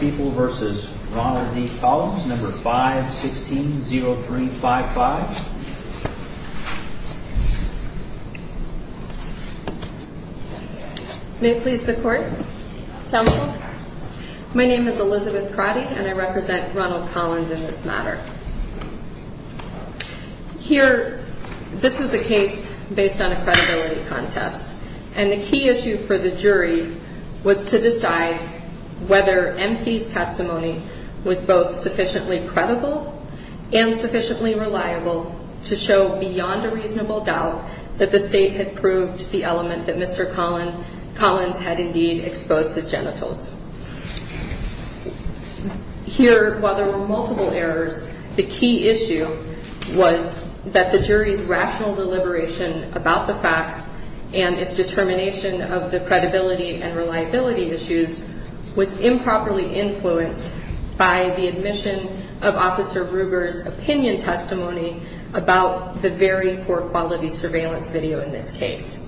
People v. Ronald D. Collins 516-0355 My name is Elizabeth Crotty and I represent Ronald Collins in this matter. Here, this was a case based on a credibility contest. And the key issue for the jury was to decide whether MP's testimony was both sufficiently credible and sufficiently reliable to show beyond a reasonable doubt that the State had proved the element that Mr. Collins had indeed exposed his genitals. Here, while there were multiple errors, the key issue was that the jury's rational deliberation about the facts and its determination of the credibility and reliability issues was improperly influenced by the admission of Officer Brugger's opinion testimony about the very poor quality surveillance video in this case.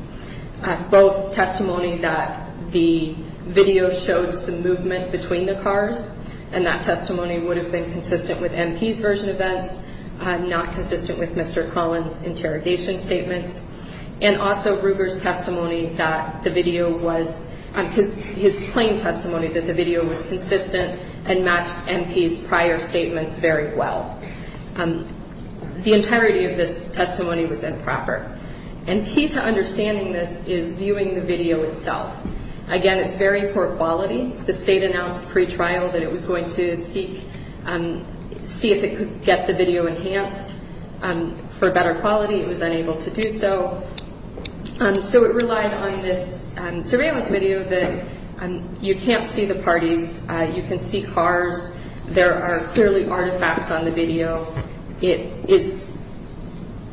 Both testimony that the video showed some movement between the cars and that testimony would have been consistent with MP's version of events, not consistent with Mr. Collins' interrogation statements, and also Brugger's plain testimony that the video was consistent and matched MP's prior statements very well. The entirety of this testimony was improper. And key to understanding this is viewing the video itself. Again, it's very poor quality. The State announced pre-trial that it was going to seek, see if it could get the video enhanced. For better quality, it was unable to do so. So it relied on this surveillance video that you can't see the parties. You can see cars. There are clearly artifacts on the video. It is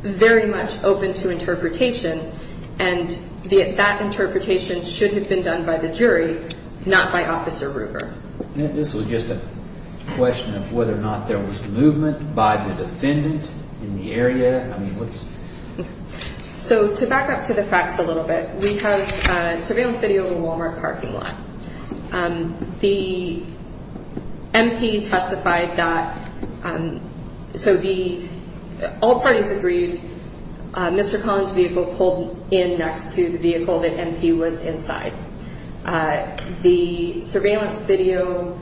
very much open to interpretation, and that interpretation should have been done by the jury, not by Officer Brugger. This was just a question of whether or not there was movement by the defendant in the area. So to back up to the facts a little bit, we have surveillance video of a Walmart parking lot. The MP testified that all parties agreed Mr. Collins' vehicle pulled in next to the vehicle that MP was inside. The surveillance video,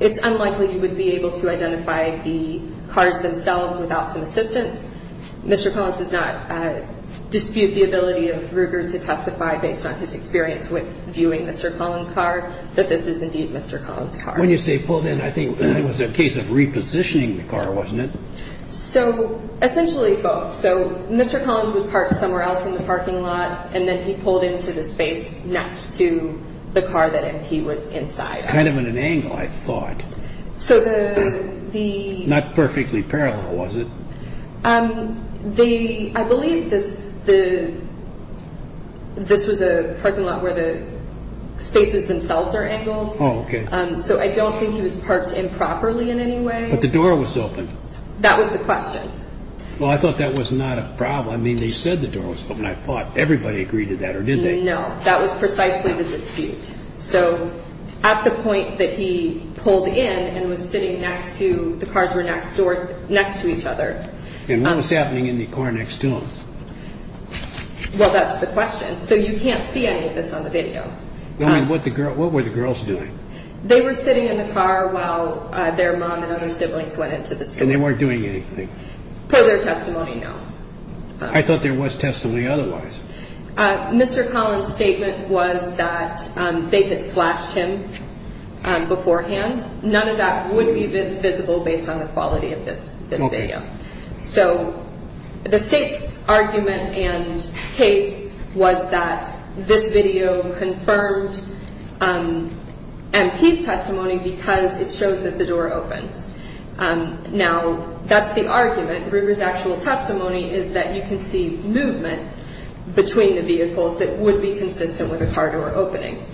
it's unlikely you would be able to identify the cars themselves without some assistance. Mr. Collins does not dispute the ability of Brugger to testify, based on his experience with viewing Mr. Collins' car, that this is indeed Mr. Collins' car. When you say pulled in, I think it was a case of repositioning the car, wasn't it? So essentially both. So Mr. Collins was parked somewhere else in the parking lot, and then he pulled into the space next to the car that MP was inside. Kind of at an angle, I thought. So the... Not perfectly parallel, was it? I believe this was a parking lot where the spaces themselves are angled. Oh, okay. So I don't think he was parked improperly in any way. But the door was open. That was the question. Well, I thought that was not a problem. I mean, they said the door was open. I thought everybody agreed to that, or did they? No, that was precisely the dispute. So at the point that he pulled in and was sitting next to, the cars were next door, next to each other. And what was happening in the car next to him? Well, that's the question. So you can't see any of this on the video. I mean, what were the girls doing? They were sitting in the car while their mom and other siblings went into the store. And they weren't doing anything? Per their testimony, no. I thought there was testimony otherwise. Mr. Collins' statement was that they had flashed him beforehand. None of that would be visible based on the quality of this video. So the State's argument and case was that this video confirmed MP's testimony because it shows that the door opens. Now, that's the argument. Ruger's actual testimony is that you can see movement between the vehicles that would be consistent with a car door opening.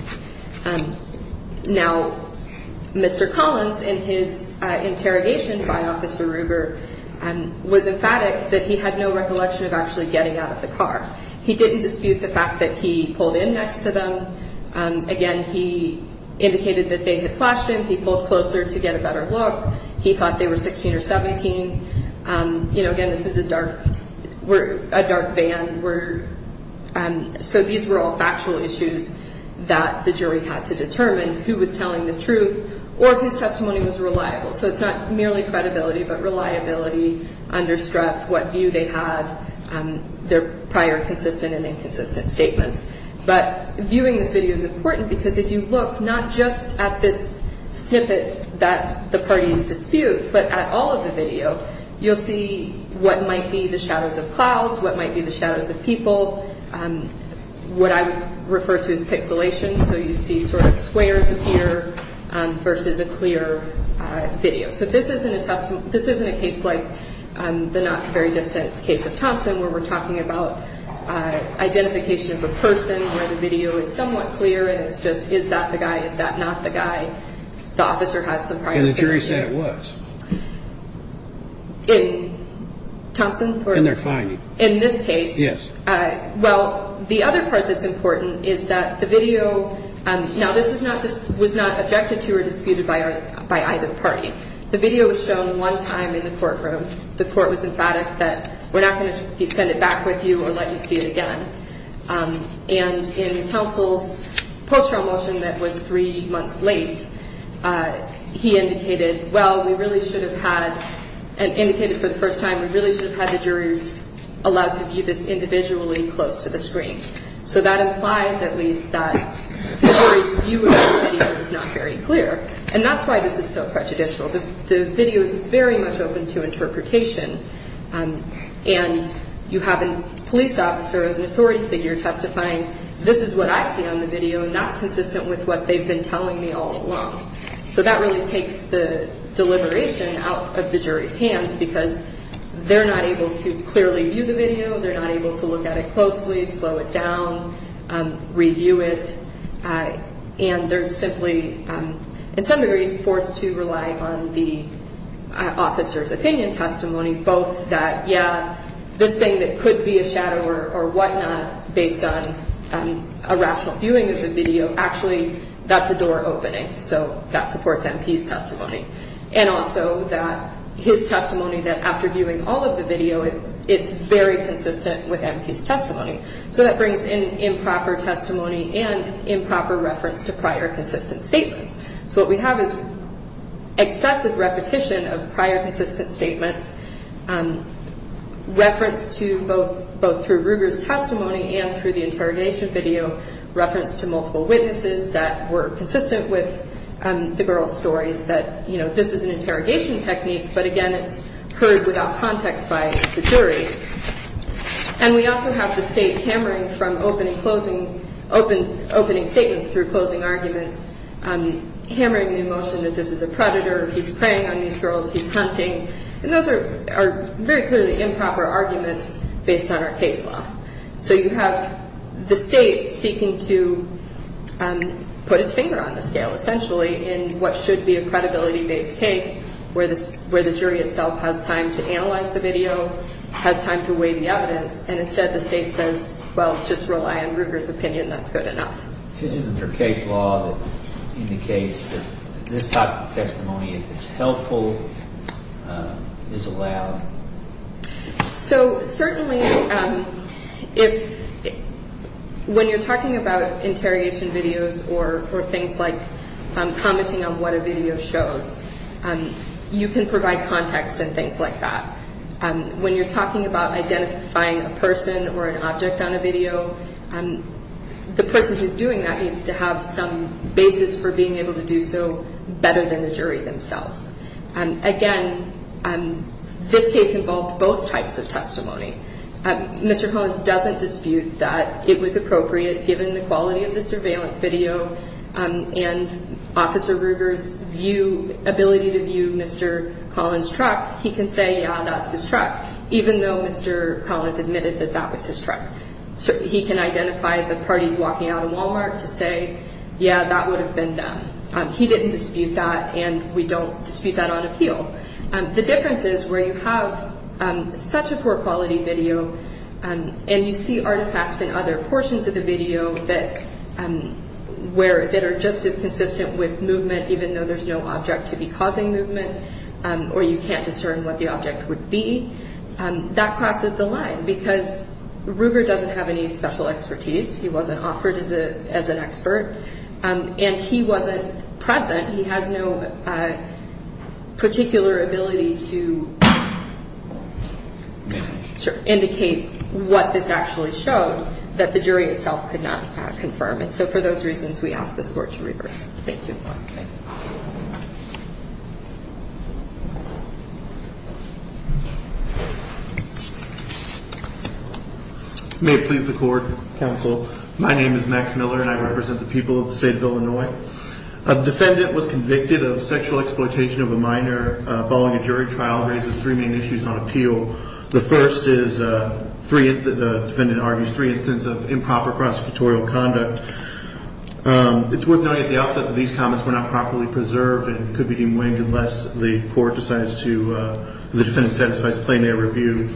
Now, Mr. Collins, in his interrogation by Officer Ruger, was emphatic that he had no recollection of actually getting out of the car. He didn't dispute the fact that he pulled in next to them. Again, he indicated that they had flashed him. He pulled closer to get a better look. He thought they were 16 or 17. You know, again, this is a dark band. So these were all factual issues that the jury had to determine who was telling the truth or whose testimony was reliable. So it's not merely credibility, but reliability under stress, what view they had, their prior consistent and inconsistent statements. But viewing this video is important because if you look not just at this snippet that the parties dispute, but at all of the video, you'll see what might be the shadows of clouds, what might be the shadows of people, what I would refer to as pixelation, so you see sort of squares appear versus a clear video. So this isn't a case like the not very distant case of Thompson where we're talking about identification of a person where the video is somewhat clear and it's just is that the guy, is that not the guy. The officer has some prior experience. And the jury said it was. In Thompson? In their finding. In this case? Yes. Well, the other part that's important is that the video, now this was not objected to or disputed by either party. The video was shown one time in the courtroom. The court was emphatic that we're not going to send it back with you or let you see it again. And in counsel's post-trial motion that was three months late, he indicated, well, we really should have had, and indicated for the first time, we really should have had the juries allowed to view this individually close to the screen. So that implies at least that the jury's view of this video is not very clear. And that's why this is so prejudicial. The video is very much open to interpretation. And you have a police officer, an authority figure testifying, this is what I see on the video, and that's consistent with what they've been telling me all along. So that really takes the deliberation out of the jury's hands because they're not able to clearly view the video. They're not able to look at it closely, slow it down, review it. And they're simply, in some degree, forced to rely on the officer's opinion testimony, both that, yeah, this thing that could be a shadow or whatnot based on a rational viewing of the video, actually that's a door opening, so that supports MP's testimony. And also that his testimony that after viewing all of the video, it's very consistent with MP's testimony. So that brings in improper testimony and improper reference to prior consistent statements. So what we have is excessive repetition of prior consistent statements, reference to both through Ruger's testimony and through the interrogation video, reference to multiple witnesses that were consistent with the girls' stories that, you know, this is an interrogation technique, but, again, it's heard without context by the jury. And we also have the state hammering from opening statements through closing arguments, hammering the emotion that this is a predator, he's preying on these girls, he's hunting. And those are very clearly improper arguments based on our case law. So you have the state seeking to put its finger on the scale, essentially, in what should be a credibility-based case where the jury itself has time to analyze the video, has time to weigh the evidence, and instead the state says, well, just rely on Ruger's opinion, that's good enough. Isn't there case law that indicates that this type of testimony, if it's helpful, is allowed? So certainly when you're talking about interrogation videos or things like commenting on what a video shows, you can provide context and things like that. When you're talking about identifying a person or an object on a video, the person who's doing that needs to have some basis for being able to do so better than the jury themselves. Again, this case involved both types of testimony. Mr. Collins doesn't dispute that it was appropriate, given the quality of the surveillance video, and Officer Ruger's view, ability to view Mr. Collins' truck. He can say, yeah, that's his truck, even though Mr. Collins admitted that that was his truck. He can identify the parties walking out of Walmart to say, yeah, that would have been them. He didn't dispute that, and we don't dispute that on appeal. The difference is where you have such a poor-quality video, and you see artifacts in other portions of the video that are just as consistent with movement, even though there's no object to be causing movement, or you can't discern what the object would be, that crosses the line because Ruger doesn't have any special expertise. He wasn't offered as an expert, and he wasn't present. He has no particular ability to indicate what this actually showed, that the jury itself could not confirm it. So for those reasons, we ask this Court to reverse. Thank you. May it please the Court, Counsel. My name is Max Miller, and I represent the people of the state of Illinois. A defendant was convicted of sexual exploitation of a minor following a jury trial. It raises three main issues on appeal. The first is three – the defendant argues three instances of improper prosecutorial conduct. It's worth noting at the outset that these comments were not properly preserved and could be deemed winged unless the Court decides to – the defendant satisfies plain air review.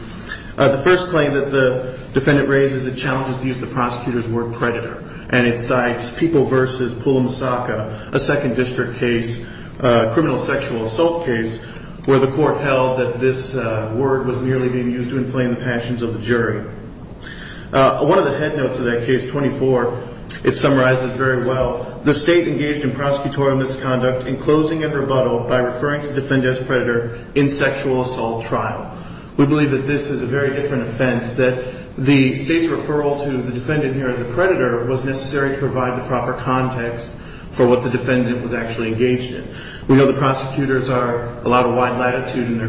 The first claim that the defendant raises, it challenges the use of the prosecutor's word predator, and it cites People v. Pula Masaka, a Second District case, a criminal sexual assault case, where the Court held that this word was merely being used to inflame the passions of the jury. One of the head notes of that case, 24, it summarizes very well, the state engaged in prosecutorial misconduct in closing a rebuttal by referring to the defendant as predator in sexual assault trial. We believe that this is a very different offense, that the state's referral to the defendant here as a predator was necessary to provide the proper context for what the defendant was actually engaged in. We know the prosecutors are a lot of wide latitude and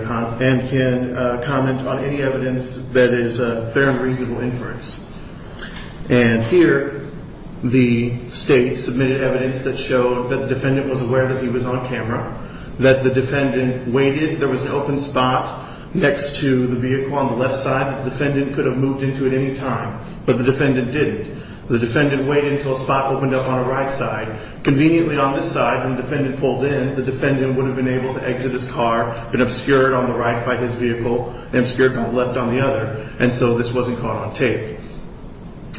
can comment on any evidence that is fair and reasonable inference. And here, the state submitted evidence that showed that the defendant was aware that he was on camera, that the defendant waited, there was an open spot next to the vehicle on the left side, that the defendant could have moved into at any time, but the defendant didn't. The defendant waited until a spot opened up on the right side. Conveniently, on this side, when the defendant pulled in, the defendant would have been able to exit his car, been obscured on the right by his vehicle, and obscured on the left by the other, and so this wasn't caught on tape.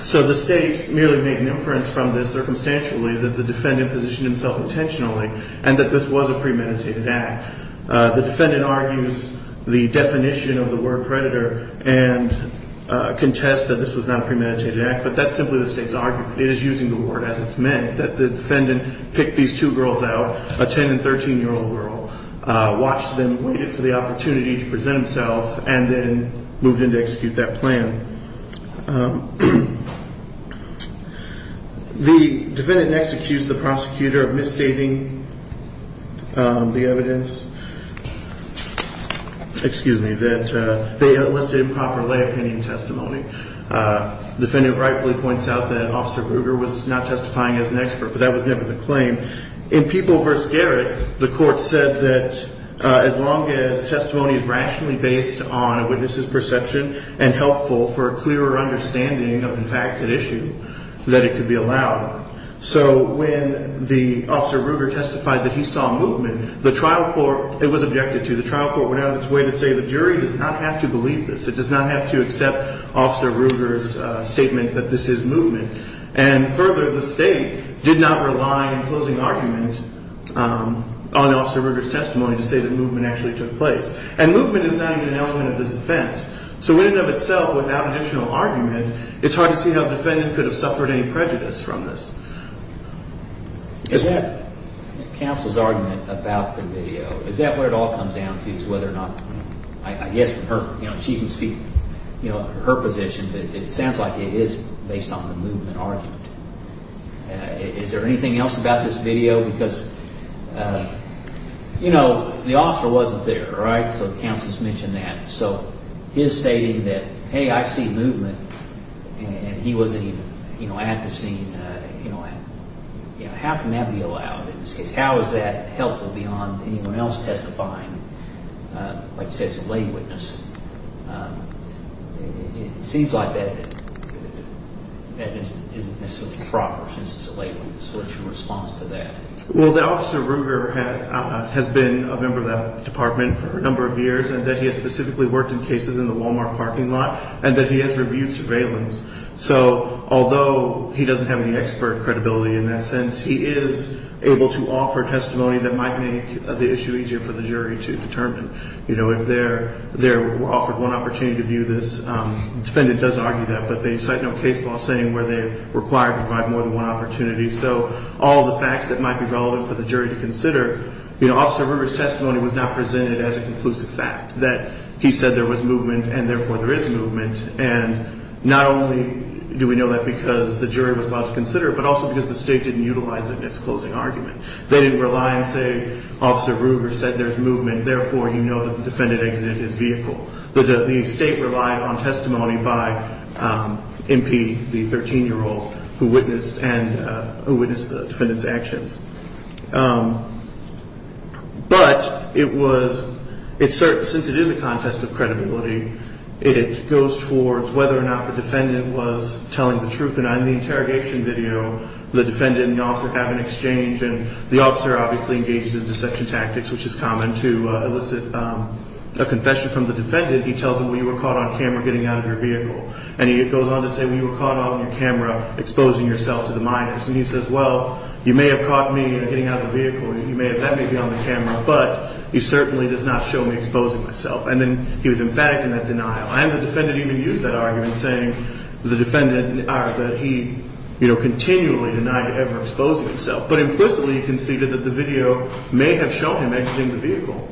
So the state merely made an inference from this, circumstantially, that the defendant positioned himself intentionally, and that this was a premeditated act. The defendant argues the definition of the word predator and contests that this was not a premeditated act, but that's simply the state's argument. It is using the word as it's meant, that the defendant picked these two girls out, a 10- and 13-year-old girl, watched them, waited for the opportunity to present himself, and then moved in to execute that plan. The defendant next accused the prosecutor of misstating the evidence, excuse me, that they enlisted improper lay opinion testimony. The defendant rightfully points out that Officer Bruger was not testifying as an expert, but that was never the claim. In People v. Garrett, the court said that as long as testimony is rationally based on a witness's perception and helpful for a clearer understanding of the fact at issue, that it could be allowed. So when the Officer Bruger testified that he saw movement, the trial court, it was objected to, the trial court went out of its way to say the jury does not have to believe this. It does not have to accept Officer Bruger's statement that this is movement. And further, the state did not rely in closing argument on Officer Bruger's testimony to say that movement actually took place. And movement is not even an element of this defense. So in and of itself, without an additional argument, it's hard to see how the defendant could have suffered any prejudice from this. Is that counsel's argument about the video, is that where it all comes down to is whether or not, I guess from her, you know, she can speak, you know, her position, but it sounds like it is based on the movement argument. Is there anything else about this video? Because, you know, the officer wasn't there, right? So the counsel's mentioned that. So his stating that, hey, I see movement, and he wasn't even, you know, at the scene, you know, how can that be allowed? How is that helpful beyond anyone else testifying? Like you said, it's a lay witness. It seems like that isn't necessarily proper since it's a lay witness. What's your response to that? Well, that Officer Ruger has been a member of that department for a number of years, and that he has specifically worked in cases in the Walmart parking lot, and that he has reviewed surveillance. So although he doesn't have any expert credibility in that sense, he is able to offer testimony that might make the issue easier for the jury to determine, you know, if they're offered one opportunity to view this. The defendant does argue that, but they cite no case law saying where they're required to provide more than one opportunity. So all the facts that might be relevant for the jury to consider, you know, Officer Ruger's testimony was not presented as a conclusive fact, that he said there was movement, and therefore there is movement. And not only do we know that because the jury was allowed to consider it, but also because the State didn't utilize it in its closing argument. They didn't rely and say Officer Ruger said there's movement. Therefore, you know that the defendant exited his vehicle. The State relied on testimony by MP, the 13-year-old who witnessed the defendant's actions. But it was – since it is a contest of credibility, it goes towards whether or not the defendant was telling the truth. And on the interrogation video, the defendant and the officer have an exchange, and the officer obviously engages in deception tactics, which is common to elicit a confession from the defendant. He tells them, well, you were caught on camera getting out of your vehicle. And he goes on to say, well, you were caught on your camera exposing yourself to the minors. And he says, well, you may have caught me getting out of the vehicle. You may have – that may be on the camera, but you certainly did not show me exposing myself. And then he was emphatic in that denial. And the defendant even used that argument, saying the defendant – or that he, you know, continually denied ever exposing himself. But implicitly he conceded that the video may have shown him exiting the vehicle.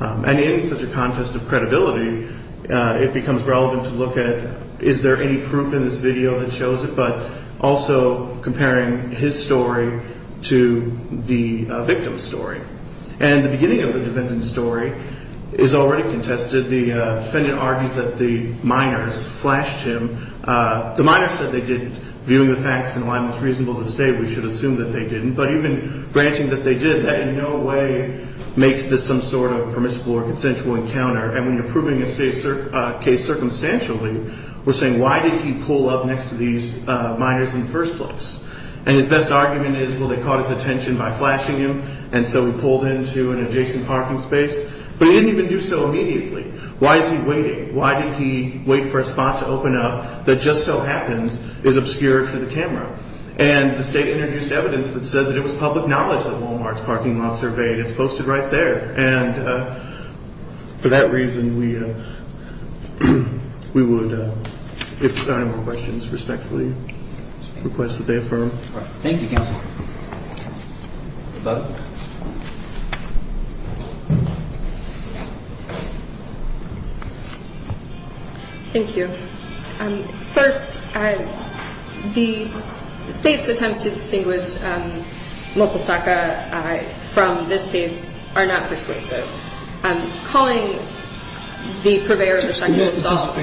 And in such a contest of credibility, it becomes relevant to look at, is there any proof in this video that shows it, but also comparing his story to the victim's story. And the beginning of the defendant's story is already contested. The defendant argues that the minors flashed him. The minors said they didn't. Viewing the facts in line with what's reasonable to say, we should assume that they didn't. But even granting that they did, that in no way makes this some sort of permissible or consensual encounter. And when you're proving a case circumstantially, we're saying, why did he pull up next to these minors in the first place? And his best argument is, well, they caught his attention by flashing him, and so he pulled into an adjacent parking space. But he didn't even do so immediately. Why is he waiting? Why did he wait for a spot to open up that just so happens is obscured for the camera? And the State introduced evidence that said that it was public knowledge that Walmart's parking lot surveyed. It's posted right there. And for that reason, we would, if there are no more questions, respectfully request that they affirm. Thank you, counsel. The vote. Thank you. First, the State's attempt to distinguish Mokosaka from this case are not persuasive. Calling the purveyor of the sexual assault.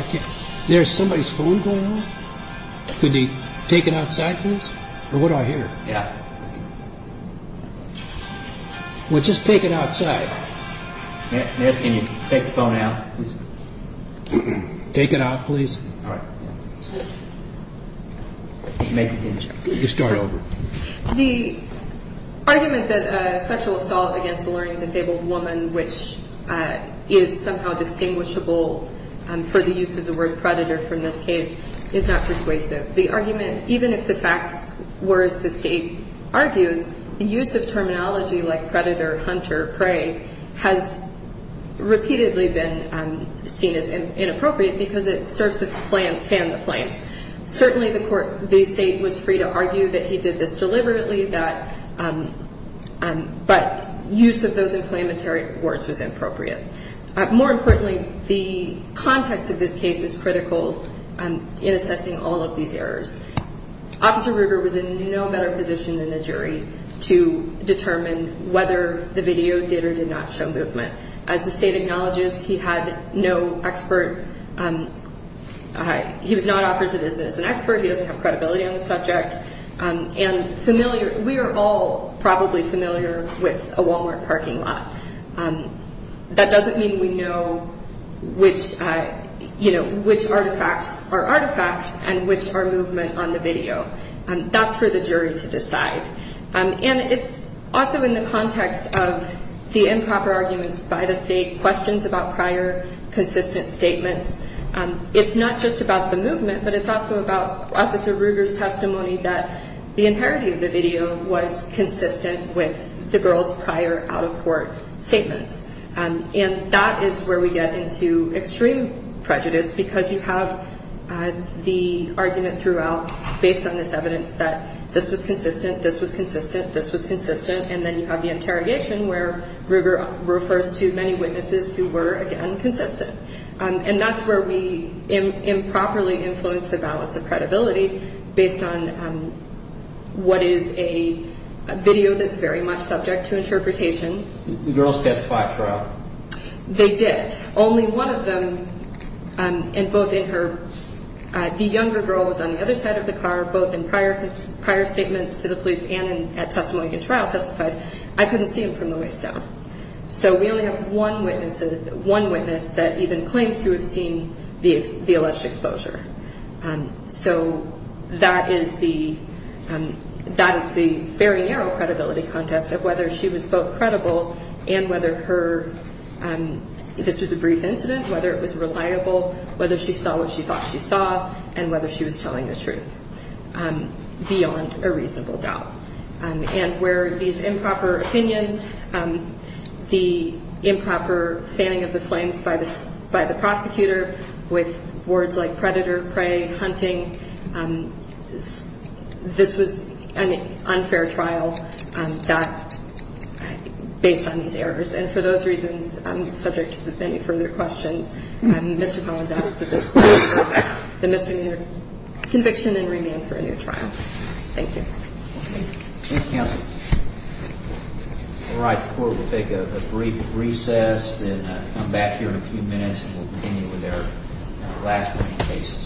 There's somebody's phone going off. Could you take it outside, please? Or what do I hear? Yeah. Well, just take it outside. May I ask, can you take the phone out, please? Take it out, please. All right. You start over. The argument that sexual assault against a learning disabled woman, which is somehow distinguishable for the use of the word predator from this case, is not persuasive. The argument, even if the facts were as the State argues, the use of terminology like predator, hunter, prey has repeatedly been seen as inappropriate because it serves to fan the flames. Certainly, the State was free to argue that he did this deliberately, but use of those inflammatory words was inappropriate. More importantly, the context of this case is critical in assessing all of these errors. Officer Ruger was in no better position than the jury to determine whether the video did or did not show movement. As the State acknowledges, he had no expert. He was not offered to do this as an expert. He doesn't have credibility on the subject. We are all probably familiar with a Walmart parking lot. That doesn't mean we know which artifacts are artifacts and which are movement on the video. That's for the jury to decide. And it's also in the context of the improper arguments by the State, questions about prior consistent statements. It's not just about the movement, but it's also about Officer Ruger's testimony that the entirety of the video was consistent with the girl's prior out-of-court statements. And that is where we get into extreme prejudice because you have the argument throughout, based on this evidence, that this was consistent, this was consistent, this was consistent, and then you have the interrogation where Ruger refers to many witnesses who were, again, consistent. And that's where we improperly influence the balance of credibility, based on what is a video that's very much subject to interpretation. The girls testified at trial. They did. Only one of them, and both in her, the younger girl was on the other side of the car, both in prior statements to the police and at testimony at trial testified. I couldn't see him from the waist down. So we only have one witness that even claims to have seen the alleged exposure. So that is the very narrow credibility contest of whether she was both credible and whether her, if this was a brief incident, whether it was reliable, whether she saw what she thought she saw, and whether she was telling the truth beyond a reasonable doubt. And where these improper opinions, the improper fanning of the flames by the prosecutor with words like predator, prey, hunting, this was an unfair trial based on these errors. And for those reasons, subject to any further questions, Mr. Collins asks that this court reverse the misdemeanor conviction and remain for a new trial. Thank you. Thank you, counsel. All right. The court will take a brief recess, then come back here in a few minutes and we'll continue with our last many cases.